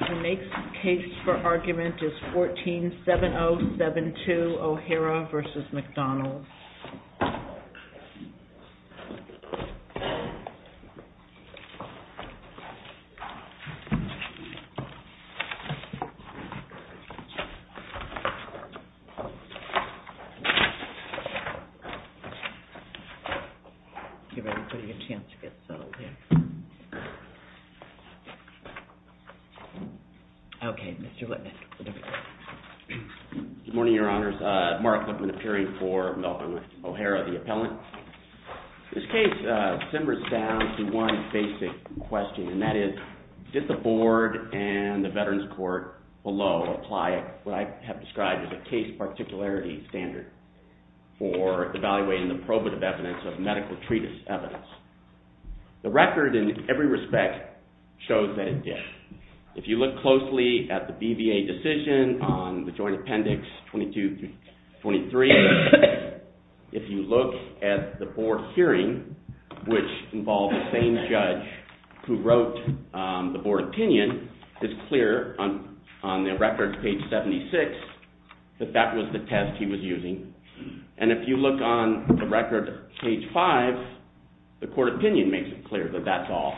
The next case for argument is 14-7072 O'Hara v. McDonald Good morning, Your Honors. Mark Whitman, appearing for O'Hara v. McDonald This case simmers down to one basic question, and that is, did the Board and the Veterans have a particularity standard for evaluating the probative evidence of medical treatise evidence? The record, in every respect, shows that it did. If you look closely at the BVA decision on the Joint Appendix 22-23, if you look at the Board hearing, which involved the same judge who wrote the Board opinion, it's clear on the record, page 76, that that was the test he was using. And if you look on the record, page 5, the Court opinion makes it clear that that's all.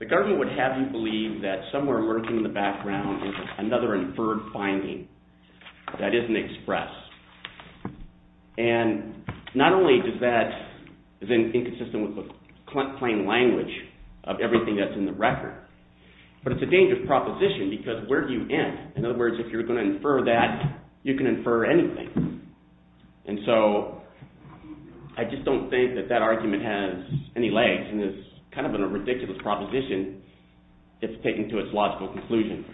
The government would have you believe that somewhere lurking in the background is another inferred finding that isn't expressed. And not only is that inconsistent with the plain language of everything that's in the record, but it's a dangerous proposition because where do you end? In other words, if you're going to infer that, you can infer anything. And so I just don't think that that argument has any legs and is kind of a ridiculous proposition if taken to its logical conclusion.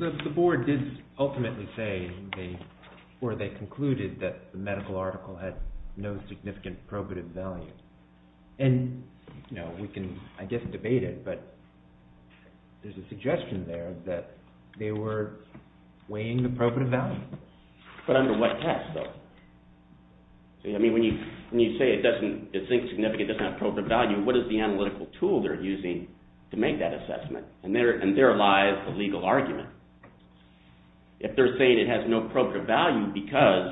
The Board did ultimately say, or they concluded, that the medical article had no significant probative value. And we can, I guess, debate it, but there's a suggestion there that they were weighing the probative value. But under what test, though? I mean, when you say it doesn't have probative value, what is the analytical tool they're using to make that assessment? And there lies the legal argument. If they're saying it has no probative value because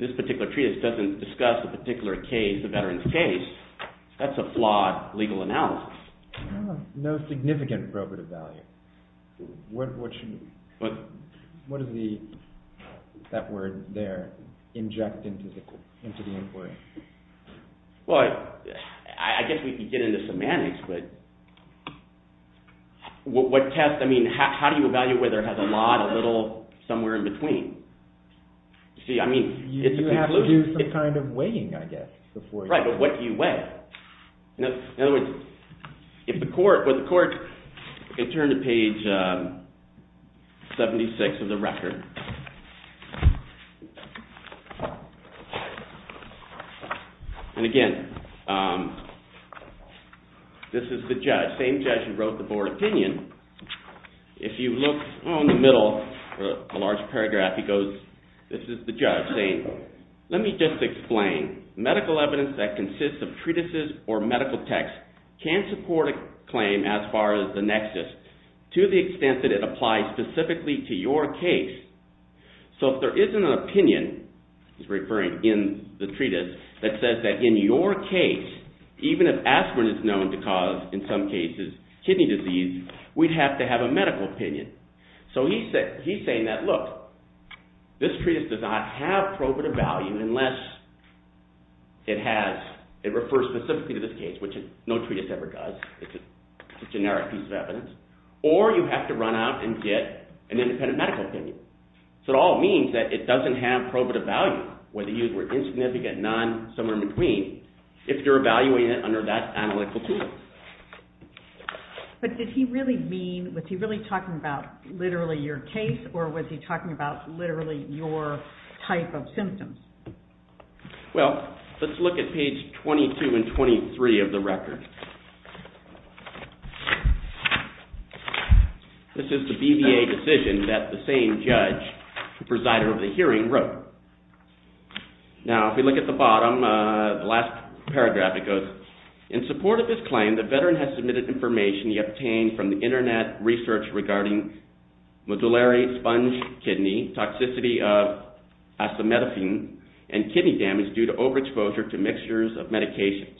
this particular treatise doesn't discuss the particular case, the veteran's case, that's a flawed legal analysis. No significant probative value. What does that word there inject into the inquiry? Well, I guess we could get into semantics, but what test, I mean, how do you evaluate whether it has a lot, a little, somewhere in between? See, I mean, it's a conclusion. You have to do some kind of weighing, I guess, before you… Right, but what do you weigh? In other words, if the court, well, the court can turn to page 76 of the record. And again, this is the judge, same judge who wrote the Board opinion. If you look in the middle, a large paragraph, he goes, this is the judge saying, let me just explain. Medical evidence that consists of treatises or medical texts can support a claim as far as the nexus to the extent that it applies specifically to your case. So if there isn't an opinion, he's referring in the treatise, that says that in your case, even if aspirin is known to cause, in some cases, kidney disease, we'd have to have a medical opinion. So he's saying that, look, this treatise does not have probative value unless it has, it refers specifically to this case, which no treatise ever does. It's a generic piece of evidence. Or you have to run out and get an independent medical opinion. So it all means that it doesn't have probative value, whether you were insignificant, none, somewhere in between, if you're talking about literally your case, or was he talking about literally your type of symptoms? Well, let's look at page 22 and 23 of the record. This is the BVA decision that the same judge, the presider of the hearing, wrote. Now, if we look at the bottom, the last paragraph, it goes, In support of his claim, the veteran has submitted information he obtained from the internet research regarding modularity of sponge kidney, toxicity of acetaminophen, and kidney damage due to overexposure to mixtures of medications.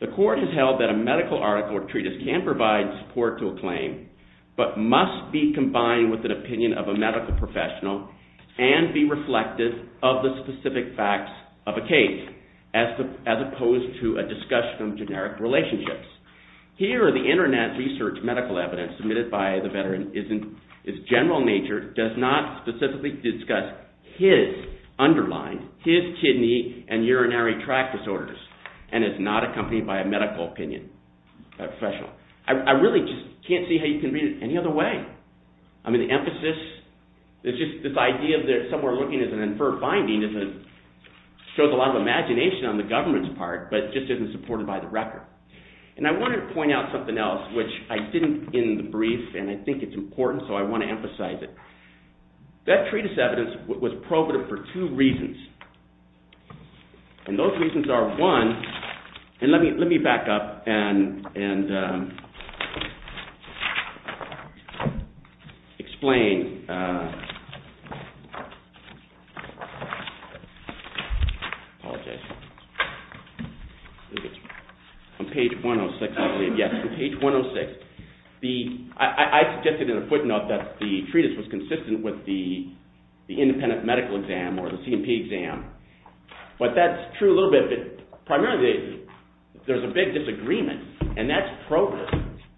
The court has held that a medical article or treatise can provide support to a claim, but must be combined with an opinion of a medical professional and be reflected of the discussion of generic relationships. Here, the internet research medical evidence submitted by the veteran is general in nature, does not specifically discuss his underlying, his kidney and urinary tract disorders, and is not accompanied by a medical opinion by a professional. I really just can't see how you can read it any other way. I mean, the emphasis, it's just this idea of somewhere looking as an inferred binding shows a lot of imagination on the government's part, but just isn't supported by the record. And I wanted to point out something else, which I didn't in the brief, and I think it's important, so I want to emphasize it. That treatise evidence was probative for two reasons. And those reasons are, one, and let me back up and explain. Apologize. On page 106, I believe. Yes, on page 106. I suggested in a footnote that the treatise was consistent with the independent medical exam or the C&P exam, but that's true a little bit. But primarily, there's a big disagreement, and that's probative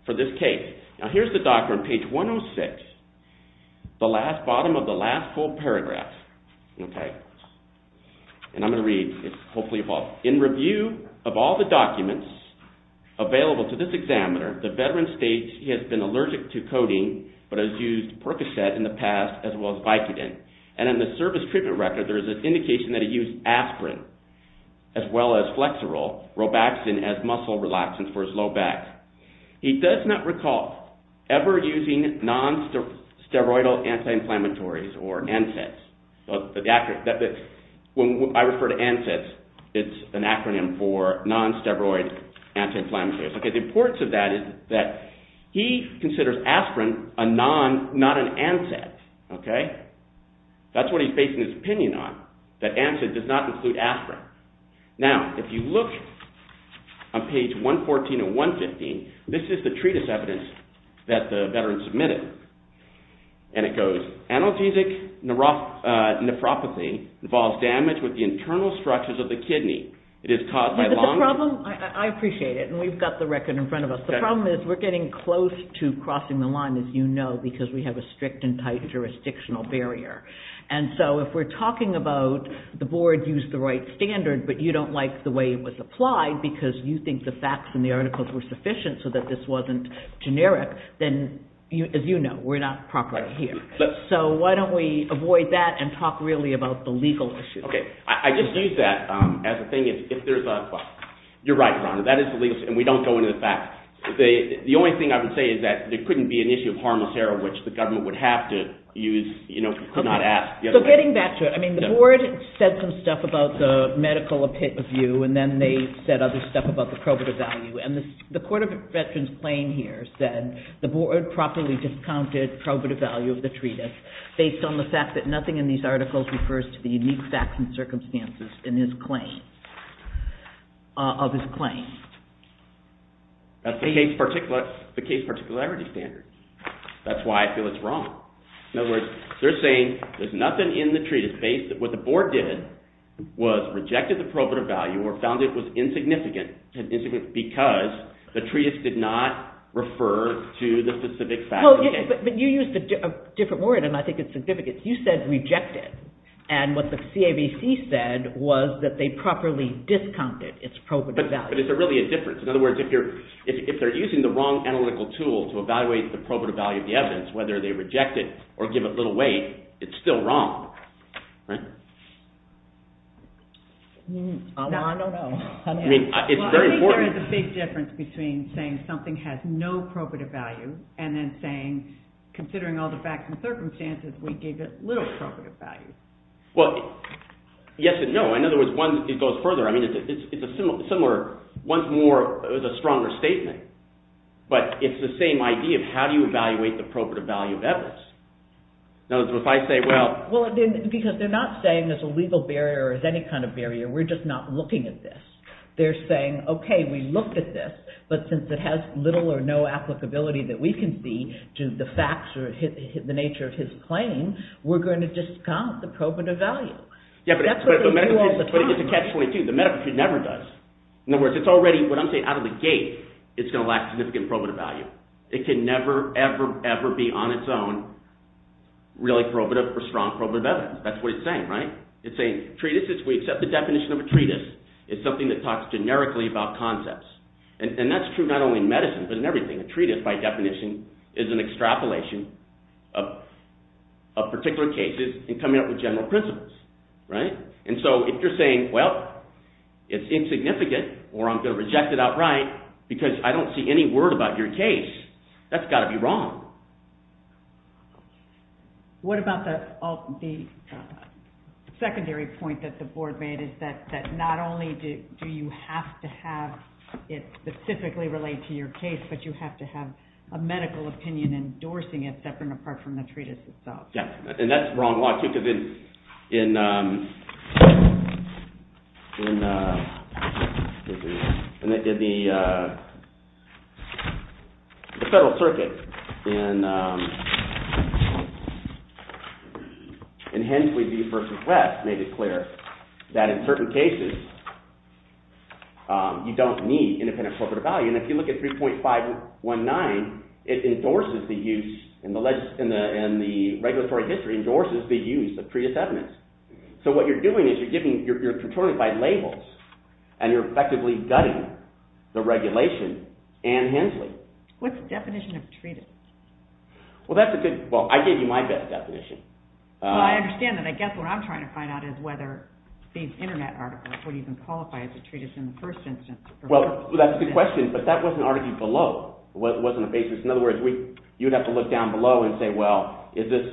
for this case. Now, here's the document, page 106, the bottom of the last full paragraph. And I'm going to read. It's hopefully evolved. In review of all the documents available to this examiner, the veteran states he has been allergic to codeine, but has used Percocet in the past, as well as Vicodin. And in the service treatment record, there's an indication that he used aspirin, as well as Flexerol, Robaxin as muscle relaxants for his low back. He does not recall ever using non-steroidal anti-inflammatories, or NSAIDs. When I refer to NSAIDs, it's an acronym for non-steroid anti-inflammatories. The importance of that is that he considers aspirin not an NSAID. That's what he's basing his opinion on, that NSAID does not include aspirin. Now, if you look on page 114 and 115, this is the treatise evidence that the veteran submitted. And it goes, analgesic nephropathy involves damage with the internal structures of the kidney. I appreciate it, and we've got the record in front of us. The problem is, we're getting close to crossing the line, as you know, because we have a strict and tight jurisdictional barrier. And so, if we're talking about the board used the right standard, but you don't like the way it was applied because you think the facts in the articles were sufficient so that this wasn't generic, then, as you know, we're not properly here. So, why don't we avoid that and talk really about the legal issue? Okay. I just use that as a thing. You're right, Rhonda. That is the legal issue, and we don't go into the facts. The only thing I would say is that there couldn't be an issue of harmless error, which the government would have to use, could not ask. So, getting back to it, I mean, the board said some stuff about the medical view, and then they said other stuff about the probative value. And the Court of Veterans Claim here said the board properly discounted probative value of the treatise based on the fact that nothing in these facts and circumstances of his claim. That's the case particularity standard. That's why I feel it's wrong. In other words, they're saying there's nothing in the treatise based on what the board did was rejected the probative value or found it was insignificant because the treatise did not refer to the specific facts. But you used a different word, and I think it's significant. You said rejected, and what the CAVC said was that they properly discounted its probative value. But is there really a difference? In other words, if they're using the wrong analytical tool to evaluate the probative value of the evidence, whether they reject it or give it little weight, it's still wrong, right? I don't know. Well, I think there is a big difference between saying something has no probative value and then saying, considering all the facts and circumstances, we gave it little probative value. Well, yes and no. In other words, it goes further. I mean, it's a similar – once more, it was a stronger statement. But it's the same idea of how do you evaluate the probative value of evidence? Because they're not saying there's a legal barrier or there's any kind of barrier. We're just not looking at this. They're saying, okay, we looked at this, but since it has little or no applicability that we can see to the facts or the nature of his claim, we're going to discount the probative value. Yeah, but it's a catch-22. The medical treat never does. In other words, it's already – what I'm saying, out of the gate, it's going to lack significant probative value. It can never, ever, ever be on its own really probative or strong probative evidence. That's what it's saying, right? It's saying treatises, we accept the definition of a treatise. It's something that talks generically about concepts. And that's true not only in medicine but in everything. A treatise, by definition, is an extrapolation of particular cases and coming up with general principles. And so if you're saying, well, it's insignificant or I'm going to reject it outright because I don't see any word about your case, that's got to be wrong. What about the secondary point that the board made is that not only do you have to have it specifically relate to your case, but you have to have a medical opinion endorsing it separate and apart from the treatise itself. And that's the wrong law too because in the Federal Circuit in Hensley v. West made it clear that in certain cases, you don't need independent probative value. And if you look at 3.519, it endorses the use in the regulatory history, endorses the use of treatise evidence. So what you're doing is you're giving – you're controlling by labels, and you're effectively gutting the regulation in Hensley. What's the definition of a treatise? Well, that's a good – well, I gave you my best definition. Well, I understand that. I guess what I'm trying to find out is whether these internet articles would even qualify as a treatise in the first instance. Well, that's a good question, but that was an article below. It wasn't a basis. In other words, you'd have to look down below and say, well, is this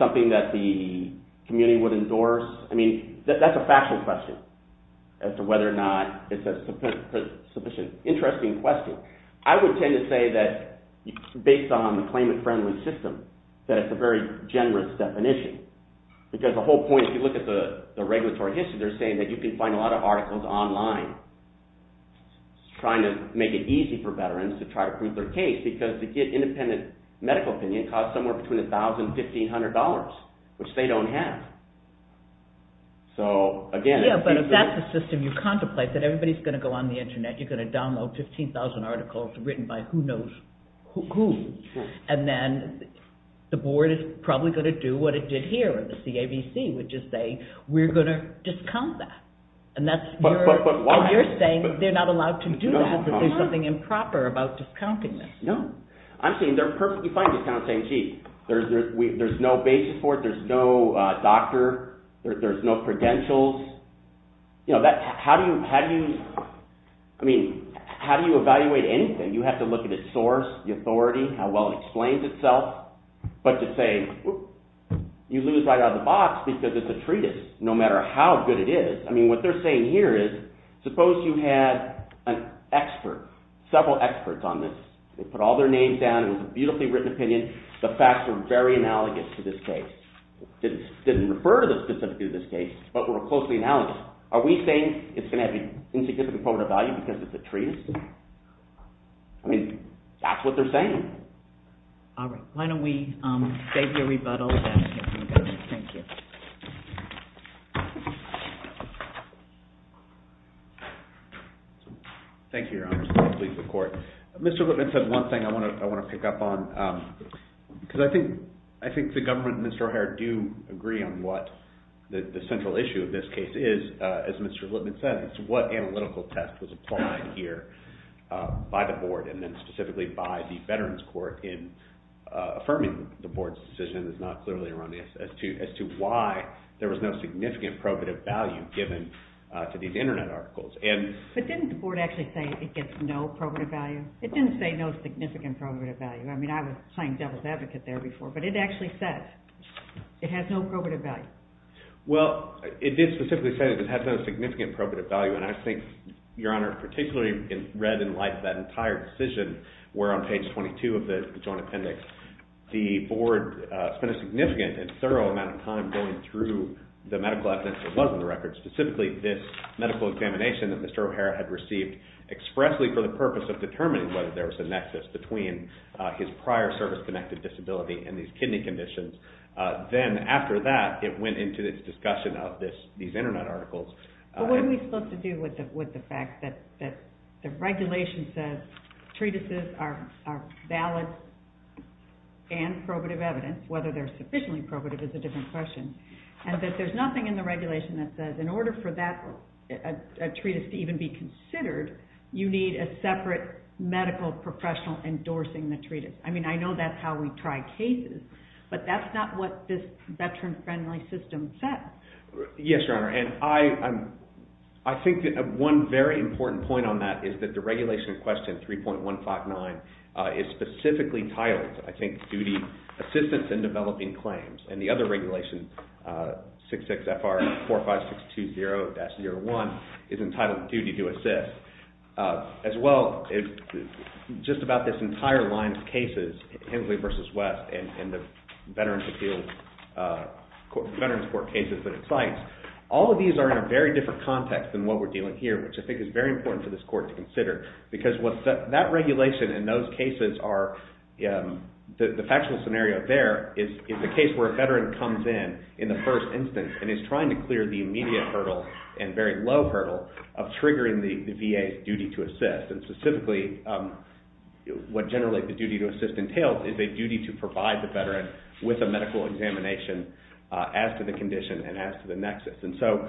something that the community would endorse? I mean, that's a factual question as to whether or not it's a sufficient – interesting question. I would tend to say that based on the claimant-friendly system, that it's a very generous definition because the whole point – if you look at the regulatory history, they're saying that you can find a lot of articles online trying to make it easy for veterans to try to prove their case because to get independent medical opinion, it costs somewhere between $1,000 and $1,500, which they don't have. So, again – Yeah, but if that's the system you contemplate, that everybody's going to go on the internet. You're going to download 15,000 articles written by who knows who, and then the board is probably going to do what it did here, or the CABC would just say, we're going to discount that, and that's – But why? You're saying they're not allowed to do that, that there's something improper about discounting this. No. I'm saying they're perfectly fine discounting it. There's no basis for it. There's no doctor. There's no credentials. How do you – I mean, how do you evaluate anything? You have to look at its source, the authority, how well it explains itself. But to say you lose right out of the box because it's a treatise, no matter how good it is. I mean, what they're saying here is suppose you had an expert, several experts on this. They put all their names down. It was a beautifully written opinion. The facts were very analogous to this case. It didn't refer to the specifics of this case, but were closely analogous. Are we saying it's going to have an insignificant component of value because it's a treatise? I mean, that's what they're saying. All right. Why don't we save your rebuttal and let him go. Thank you. Thank you, Your Honor. I'm just going to leave the court. Mr. Lipman said one thing I want to pick up on because I think the government and Mr. O'Hare do agree on what the central issue of this case is. As Mr. Lipman said, it's what analytical test was applied here by the board and then specifically by the Veterans Court in affirming the board's decision. It's not clearly erroneous as to why there was no significant probative value given to these Internet articles. But didn't the board actually say it gets no probative value? It didn't say no significant probative value. I mean, I was playing devil's advocate there before, but it actually says it has no probative value. Well, it did specifically say it has no significant probative value, and I think, Your Honor, particularly read and liked that entire decision where on page 22 of the Joint Appendix, the board spent a significant and thorough amount of time going through the medical evidence that was on the record, specifically this medical examination that Mr. O'Hare had received expressly for the purpose of determining whether there was a nexus between his prior service-connected disability and these kidney conditions. Then after that, it went into its discussion of these Internet articles. But what are we supposed to do with the fact that the regulation says treatises are valid and probative evidence, whether they're sufficiently probative is a different question, and that there's nothing in the regulation that says in order for a treatise to even be considered, you need a separate medical professional endorsing the treatise. I mean, I know that's how we try cases, but that's not what this veteran-friendly system says. Yes, Your Honor, and I think that one very important point on that is that the regulation in question, 3.159, is specifically titled, I think, Duty, Assistance in Developing Claims, and the other regulation, 66FR45620-01, is entitled Duty to Assist. As well, just about this entire line of cases, Hensley v. West and the Veterans Court cases that it cites, all of these are in a very different context than what we're dealing here, which I think is very important for this Court to consider, because what that regulation and those cases are, the factual scenario there is the case where a veteran comes in in the first instance and is trying to clear the immediate hurdle and very low hurdle of triggering the VA's duty to assist. And specifically, what generally the duty to assist entails is a duty to provide the veteran with a medical examination as to the condition and as to the nexus. And so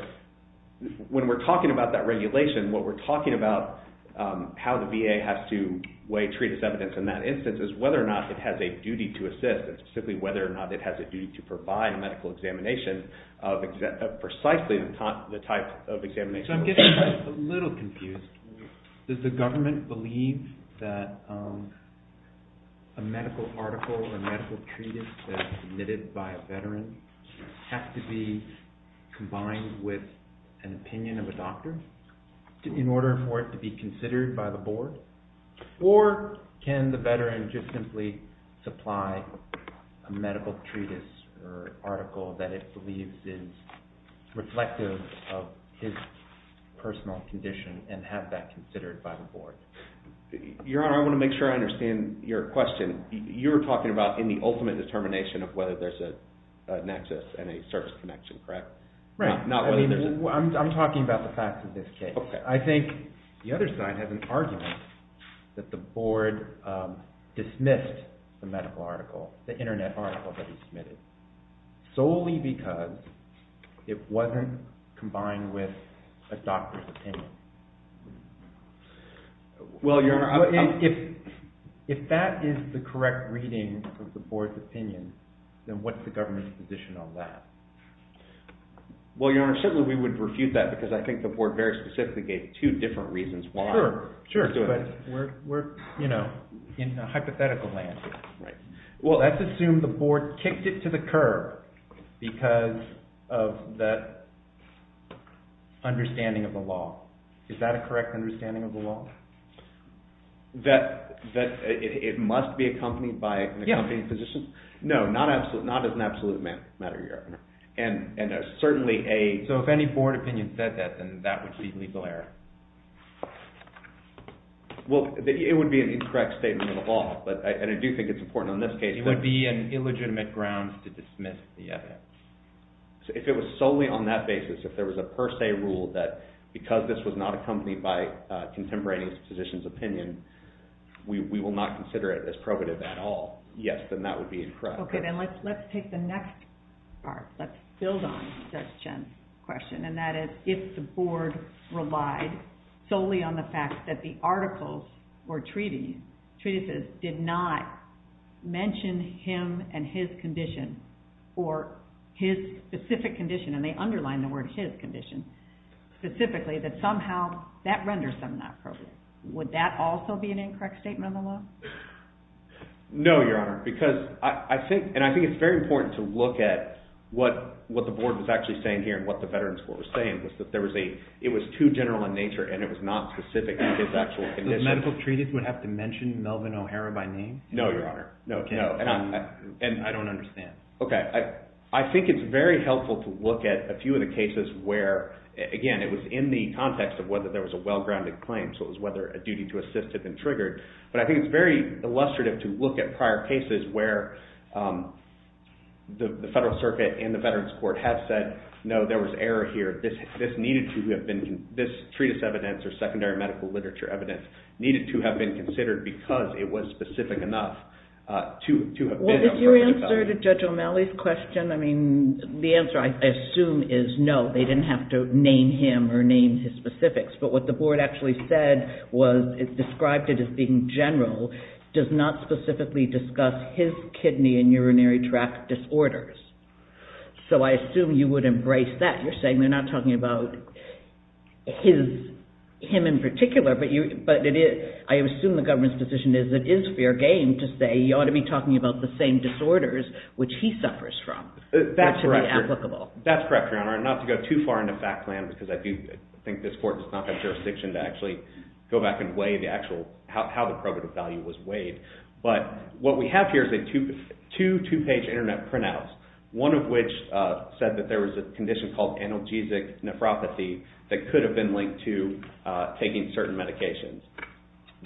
when we're talking about that regulation, what we're talking about how the VA has to weigh treatise evidence in that instance is whether or not it has a duty to assist, and specifically whether or not it has a duty to provide a medical examination of precisely the type of examination. So I'm getting a little confused. Does the government believe that a medical article, a medical treatise that is submitted by a veteran has to be combined with an opinion of a doctor in order for it to be considered by the board? Or can the veteran just simply supply a medical treatise or article that it believes is reflective of his personal condition and have that considered by the board? Your Honor, I want to make sure I understand your question. You're talking about in the ultimate determination of whether there's a nexus and a service connection, correct? Right. I'm talking about the facts of this case. I think the other side has an argument that the board dismissed the medical article, the internet article that he submitted, solely because it wasn't combined with a doctor's opinion. Well, Your Honor, if that is the correct reading of the board's opinion, then what's the government's position on that? Well, Your Honor, certainly we would refute that because I think the board very specifically gave two different reasons why. Is that a correct understanding of the law? That it must be accompanied by an accompanying physician? No, not as an absolute matter, Your Honor. So if any board opinion said that, then that would be legal error? Well, it would be an incorrect statement of the law, and I do think it's important in this case. It would be an illegitimate grounds to dismiss the evidence. If it was solely on that basis, if there was a per se rule that because this was not accompanied by a contemporaneous physician's opinion, we will not consider it as probative at all. Yes, then that would be incorrect. Okay, then let's take the next part. Let's build on Judge Chen's question, and that is if the board relied solely on the fact that the articles or treatises did not mention him and his condition, or his specific condition, and they underlined the word his condition specifically, that somehow that renders them not probative. Would that also be an incorrect statement of the law? No, Your Honor, because I think, and I think it's very important to look at what the board was actually saying here, and what the Veterans Court was saying, was that there was a, it was too general in nature, and it was not specific to his actual condition. The medical treatise would have to mention Melvin O'Hara by name? No, Your Honor. No, and I don't understand. Okay, I think it's very helpful to look at a few of the cases where, again, it was in the context of whether there was a well-grounded claim, so it was whether a duty to assist had been triggered. But I think it's very illustrative to look at prior cases where the Federal Circuit and the Veterans Court have said, no, there was error here. This needed to have been, this treatise evidence, or secondary medical literature evidence, needed to have been considered because it was specific enough to have been a prerogative. Your answer to Judge O'Malley's question, I mean, the answer, I assume, is no, they didn't have to name him or name his specifics. But what the board actually said was, it described it as being general, does not specifically discuss his kidney and urinary tract disorders. So I assume you would embrace that. You're saying they're not talking about him in particular, but I assume the government's decision is it is fair game to say you ought to be talking about the same disorders which he suffers from. That's correct, Your Honor, and not to go too far into fact plan because I do think this court does not have jurisdiction to actually go back and weigh the actual, how the prerogative value was weighed. But what we have here is two two-page internet printouts, one of which said that there was a condition called analgesic nephropathy that could have been linked to taking certain medications.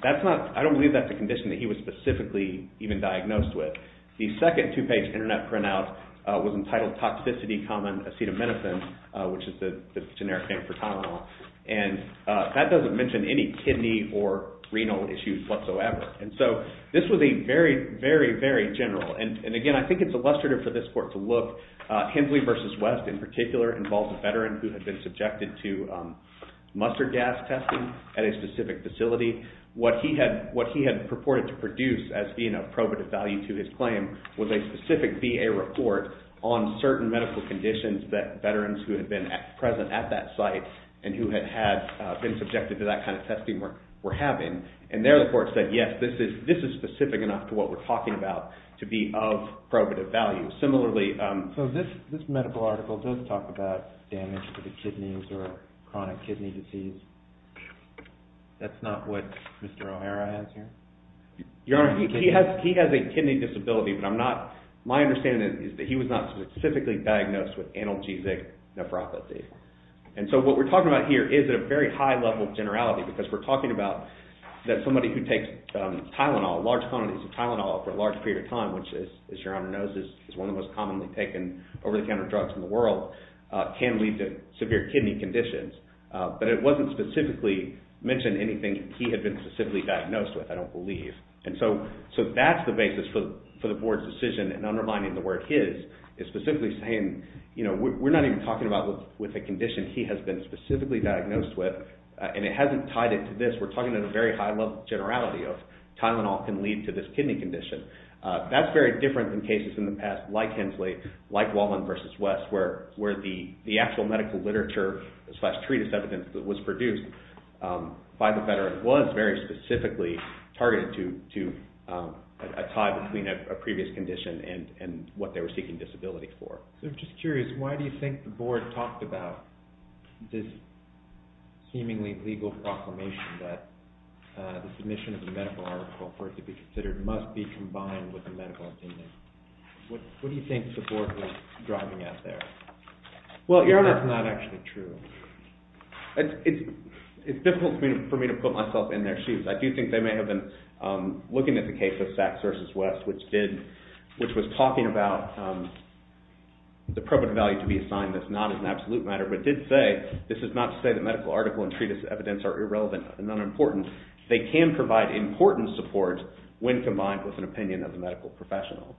I don't believe that's a condition that he was specifically even diagnosed with. The second two-page internet printout was entitled Toxicity Common Acetaminophen, which is the generic name for Tylenol, and that doesn't mention any kidney or renal issues whatsoever. And so this was a very, very, very general, and again, I think it's illustrative for this court to look. Hensley v. West in particular involved a veteran who had been subjected to mustard gas testing at a specific facility. What he had purported to produce as being a probative value to his claim was a specific VA report on certain medical conditions that veterans who had been present at that site and who had been subjected to that kind of testing were having. And there the court said, yes, this is specific enough to what we're talking about to be of probative value. Similarly – So this medical article does talk about damage to the kidneys or chronic kidney disease. That's not what Mr. O'Hara has here? Your Honor, he has a kidney disability, but I'm not – my understanding is that he was not specifically diagnosed with analgesic nephropathy. And so what we're talking about here is at a very high level of generality because we're talking about that somebody who takes Tylenol, large quantities of Tylenol for a large period of time, which is, as Your Honor knows, is one of the most commonly taken over-the-counter drugs in the world, can lead to severe kidney conditions. But it wasn't specifically mentioned anything he had been specifically diagnosed with, I don't believe. And so that's the basis for the board's decision in undermining the word his, is specifically saying, you know, we're not even talking about with a condition he has been specifically diagnosed with, and it hasn't tied into this. We're talking at a very high level of generality of Tylenol can lead to this kidney condition. That's very different than cases in the past like Hensley, like Walden v. West, where the actual medical literature slash treatise evidence that was produced by the veterans was very specifically targeted to a tie between a previous condition and what they were seeking disability for. So I'm just curious, why do you think the board talked about this seemingly legal proclamation that the submission of the medical article for it to be considered must be combined with the medical opinion? What do you think the board was driving at there? Well, Your Honor, that's not actually true. It's difficult for me to put myself in their shoes. I do think they may have been looking at the case of Sachs v. West, which was talking about the probative value to be assigned as not an absolute matter, but did say, this is not to say that medical article and treatise evidence are irrelevant and unimportant. They can provide important support when combined with an opinion of a medical professional.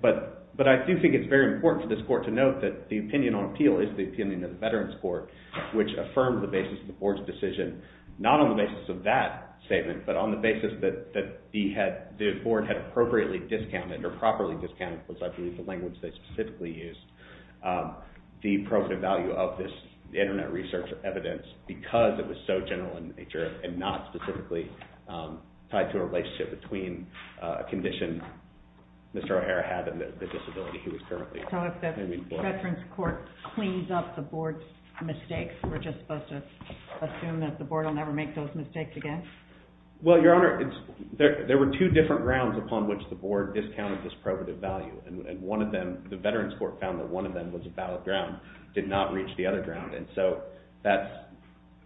But I do think it's very important for this court to note that the opinion on appeal is the opinion of the Veterans Court, which affirmed the basis of the board's decision, not on the basis of that statement, but on the basis that the board had appropriately discounted, or properly discounted, was I believe the language they specifically used, the probative value of this internet research evidence because it was so general in nature and not because of the medical profession. It was not specifically tied to a relationship between a condition Mr. O'Hara had and the disability he was currently claiming for. So if the Veterans Court cleans up the board's mistakes, we're just supposed to assume that the board will never make those mistakes again? Well, Your Honor, there were two different grounds upon which the board discounted this probative value, and one of them, the Veterans Court found that one of them was a valid ground, did not reach the other ground, and so that's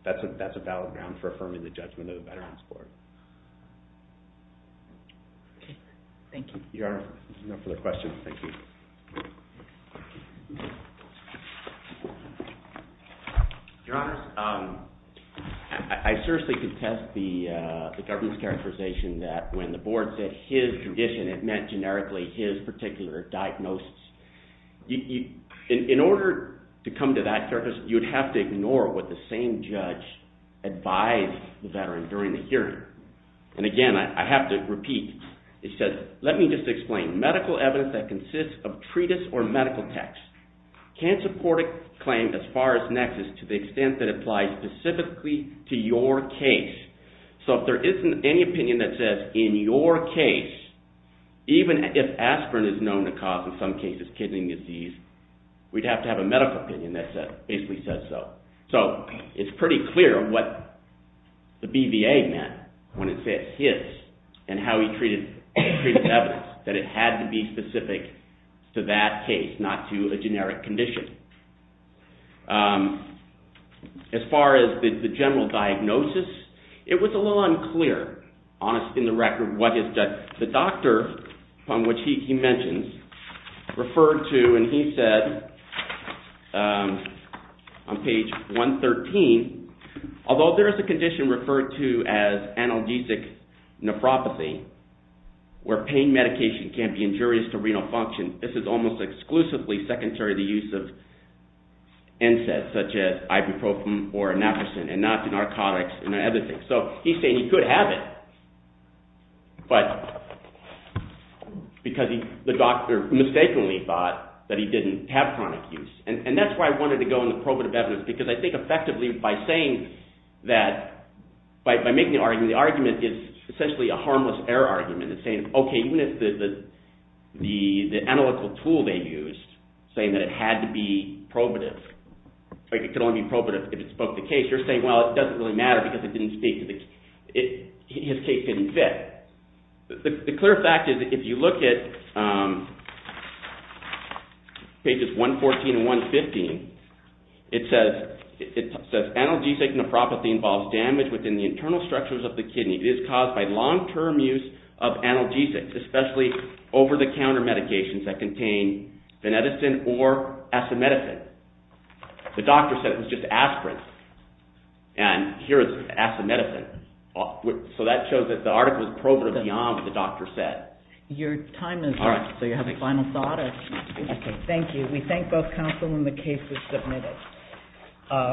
a valid ground for affirming the judgment of the Veterans Court. Okay, thank you. Your Honor, if there's no further questions, thank you. Your Honor, I seriously contest the government's characterization that when the board said his tradition, it meant generically his particular diagnosis. In order to come to that, you would have to ignore what the same judge advised the veteran during the hearing. And again, I have to repeat, it says, let me just explain, medical evidence that consists of treatise or medical text can't support a claim as far as nexus to the extent that it applies specifically to your case. So if there isn't any opinion that says, in your case, even if aspirin is known to cause, in some cases, kidney disease, we'd have to have a medical opinion that basically says so. So it's pretty clear what the BVA meant when it said his and how he treated evidence, that it had to be specific to that case, not to a generic condition. As far as the general diagnosis, it was a little unclear in the record what the doctor, upon which he mentions, referred to. And he said on page 113, although there is a condition referred to as analgesic nephropathy, where pain medication can be injurious to renal function, this is almost exclusively secondary to the use of NSAIDs, such as ibuprofen or naproxen, and not to narcotics and other things. So he's saying he could have it, but because the doctor mistakenly thought that he didn't have chronic use. And that's why I wanted to go into probative evidence, because I think effectively by saying that – by making the argument, the argument is essentially a harmless error argument. It's saying, okay, even if the analytical tool they used, saying that it had to be probative, like it could only be probative if it spoke the case, you're saying, well, it doesn't really matter because it didn't speak to the – his case didn't fit. The clear fact is if you look at pages 114 and 115, it says analgesic nephropathy involves damage within the internal structures of the kidney. It is caused by long-term use of analgesics, especially over-the-counter medications that contain veneticin or asimeticin. The doctor said it was just aspirin, and here is asimeticin. So that shows that the article is probative beyond what the doctor said. Your time is up, so you have a final thought. Okay, thank you. We thank both counsel when the case was submitted.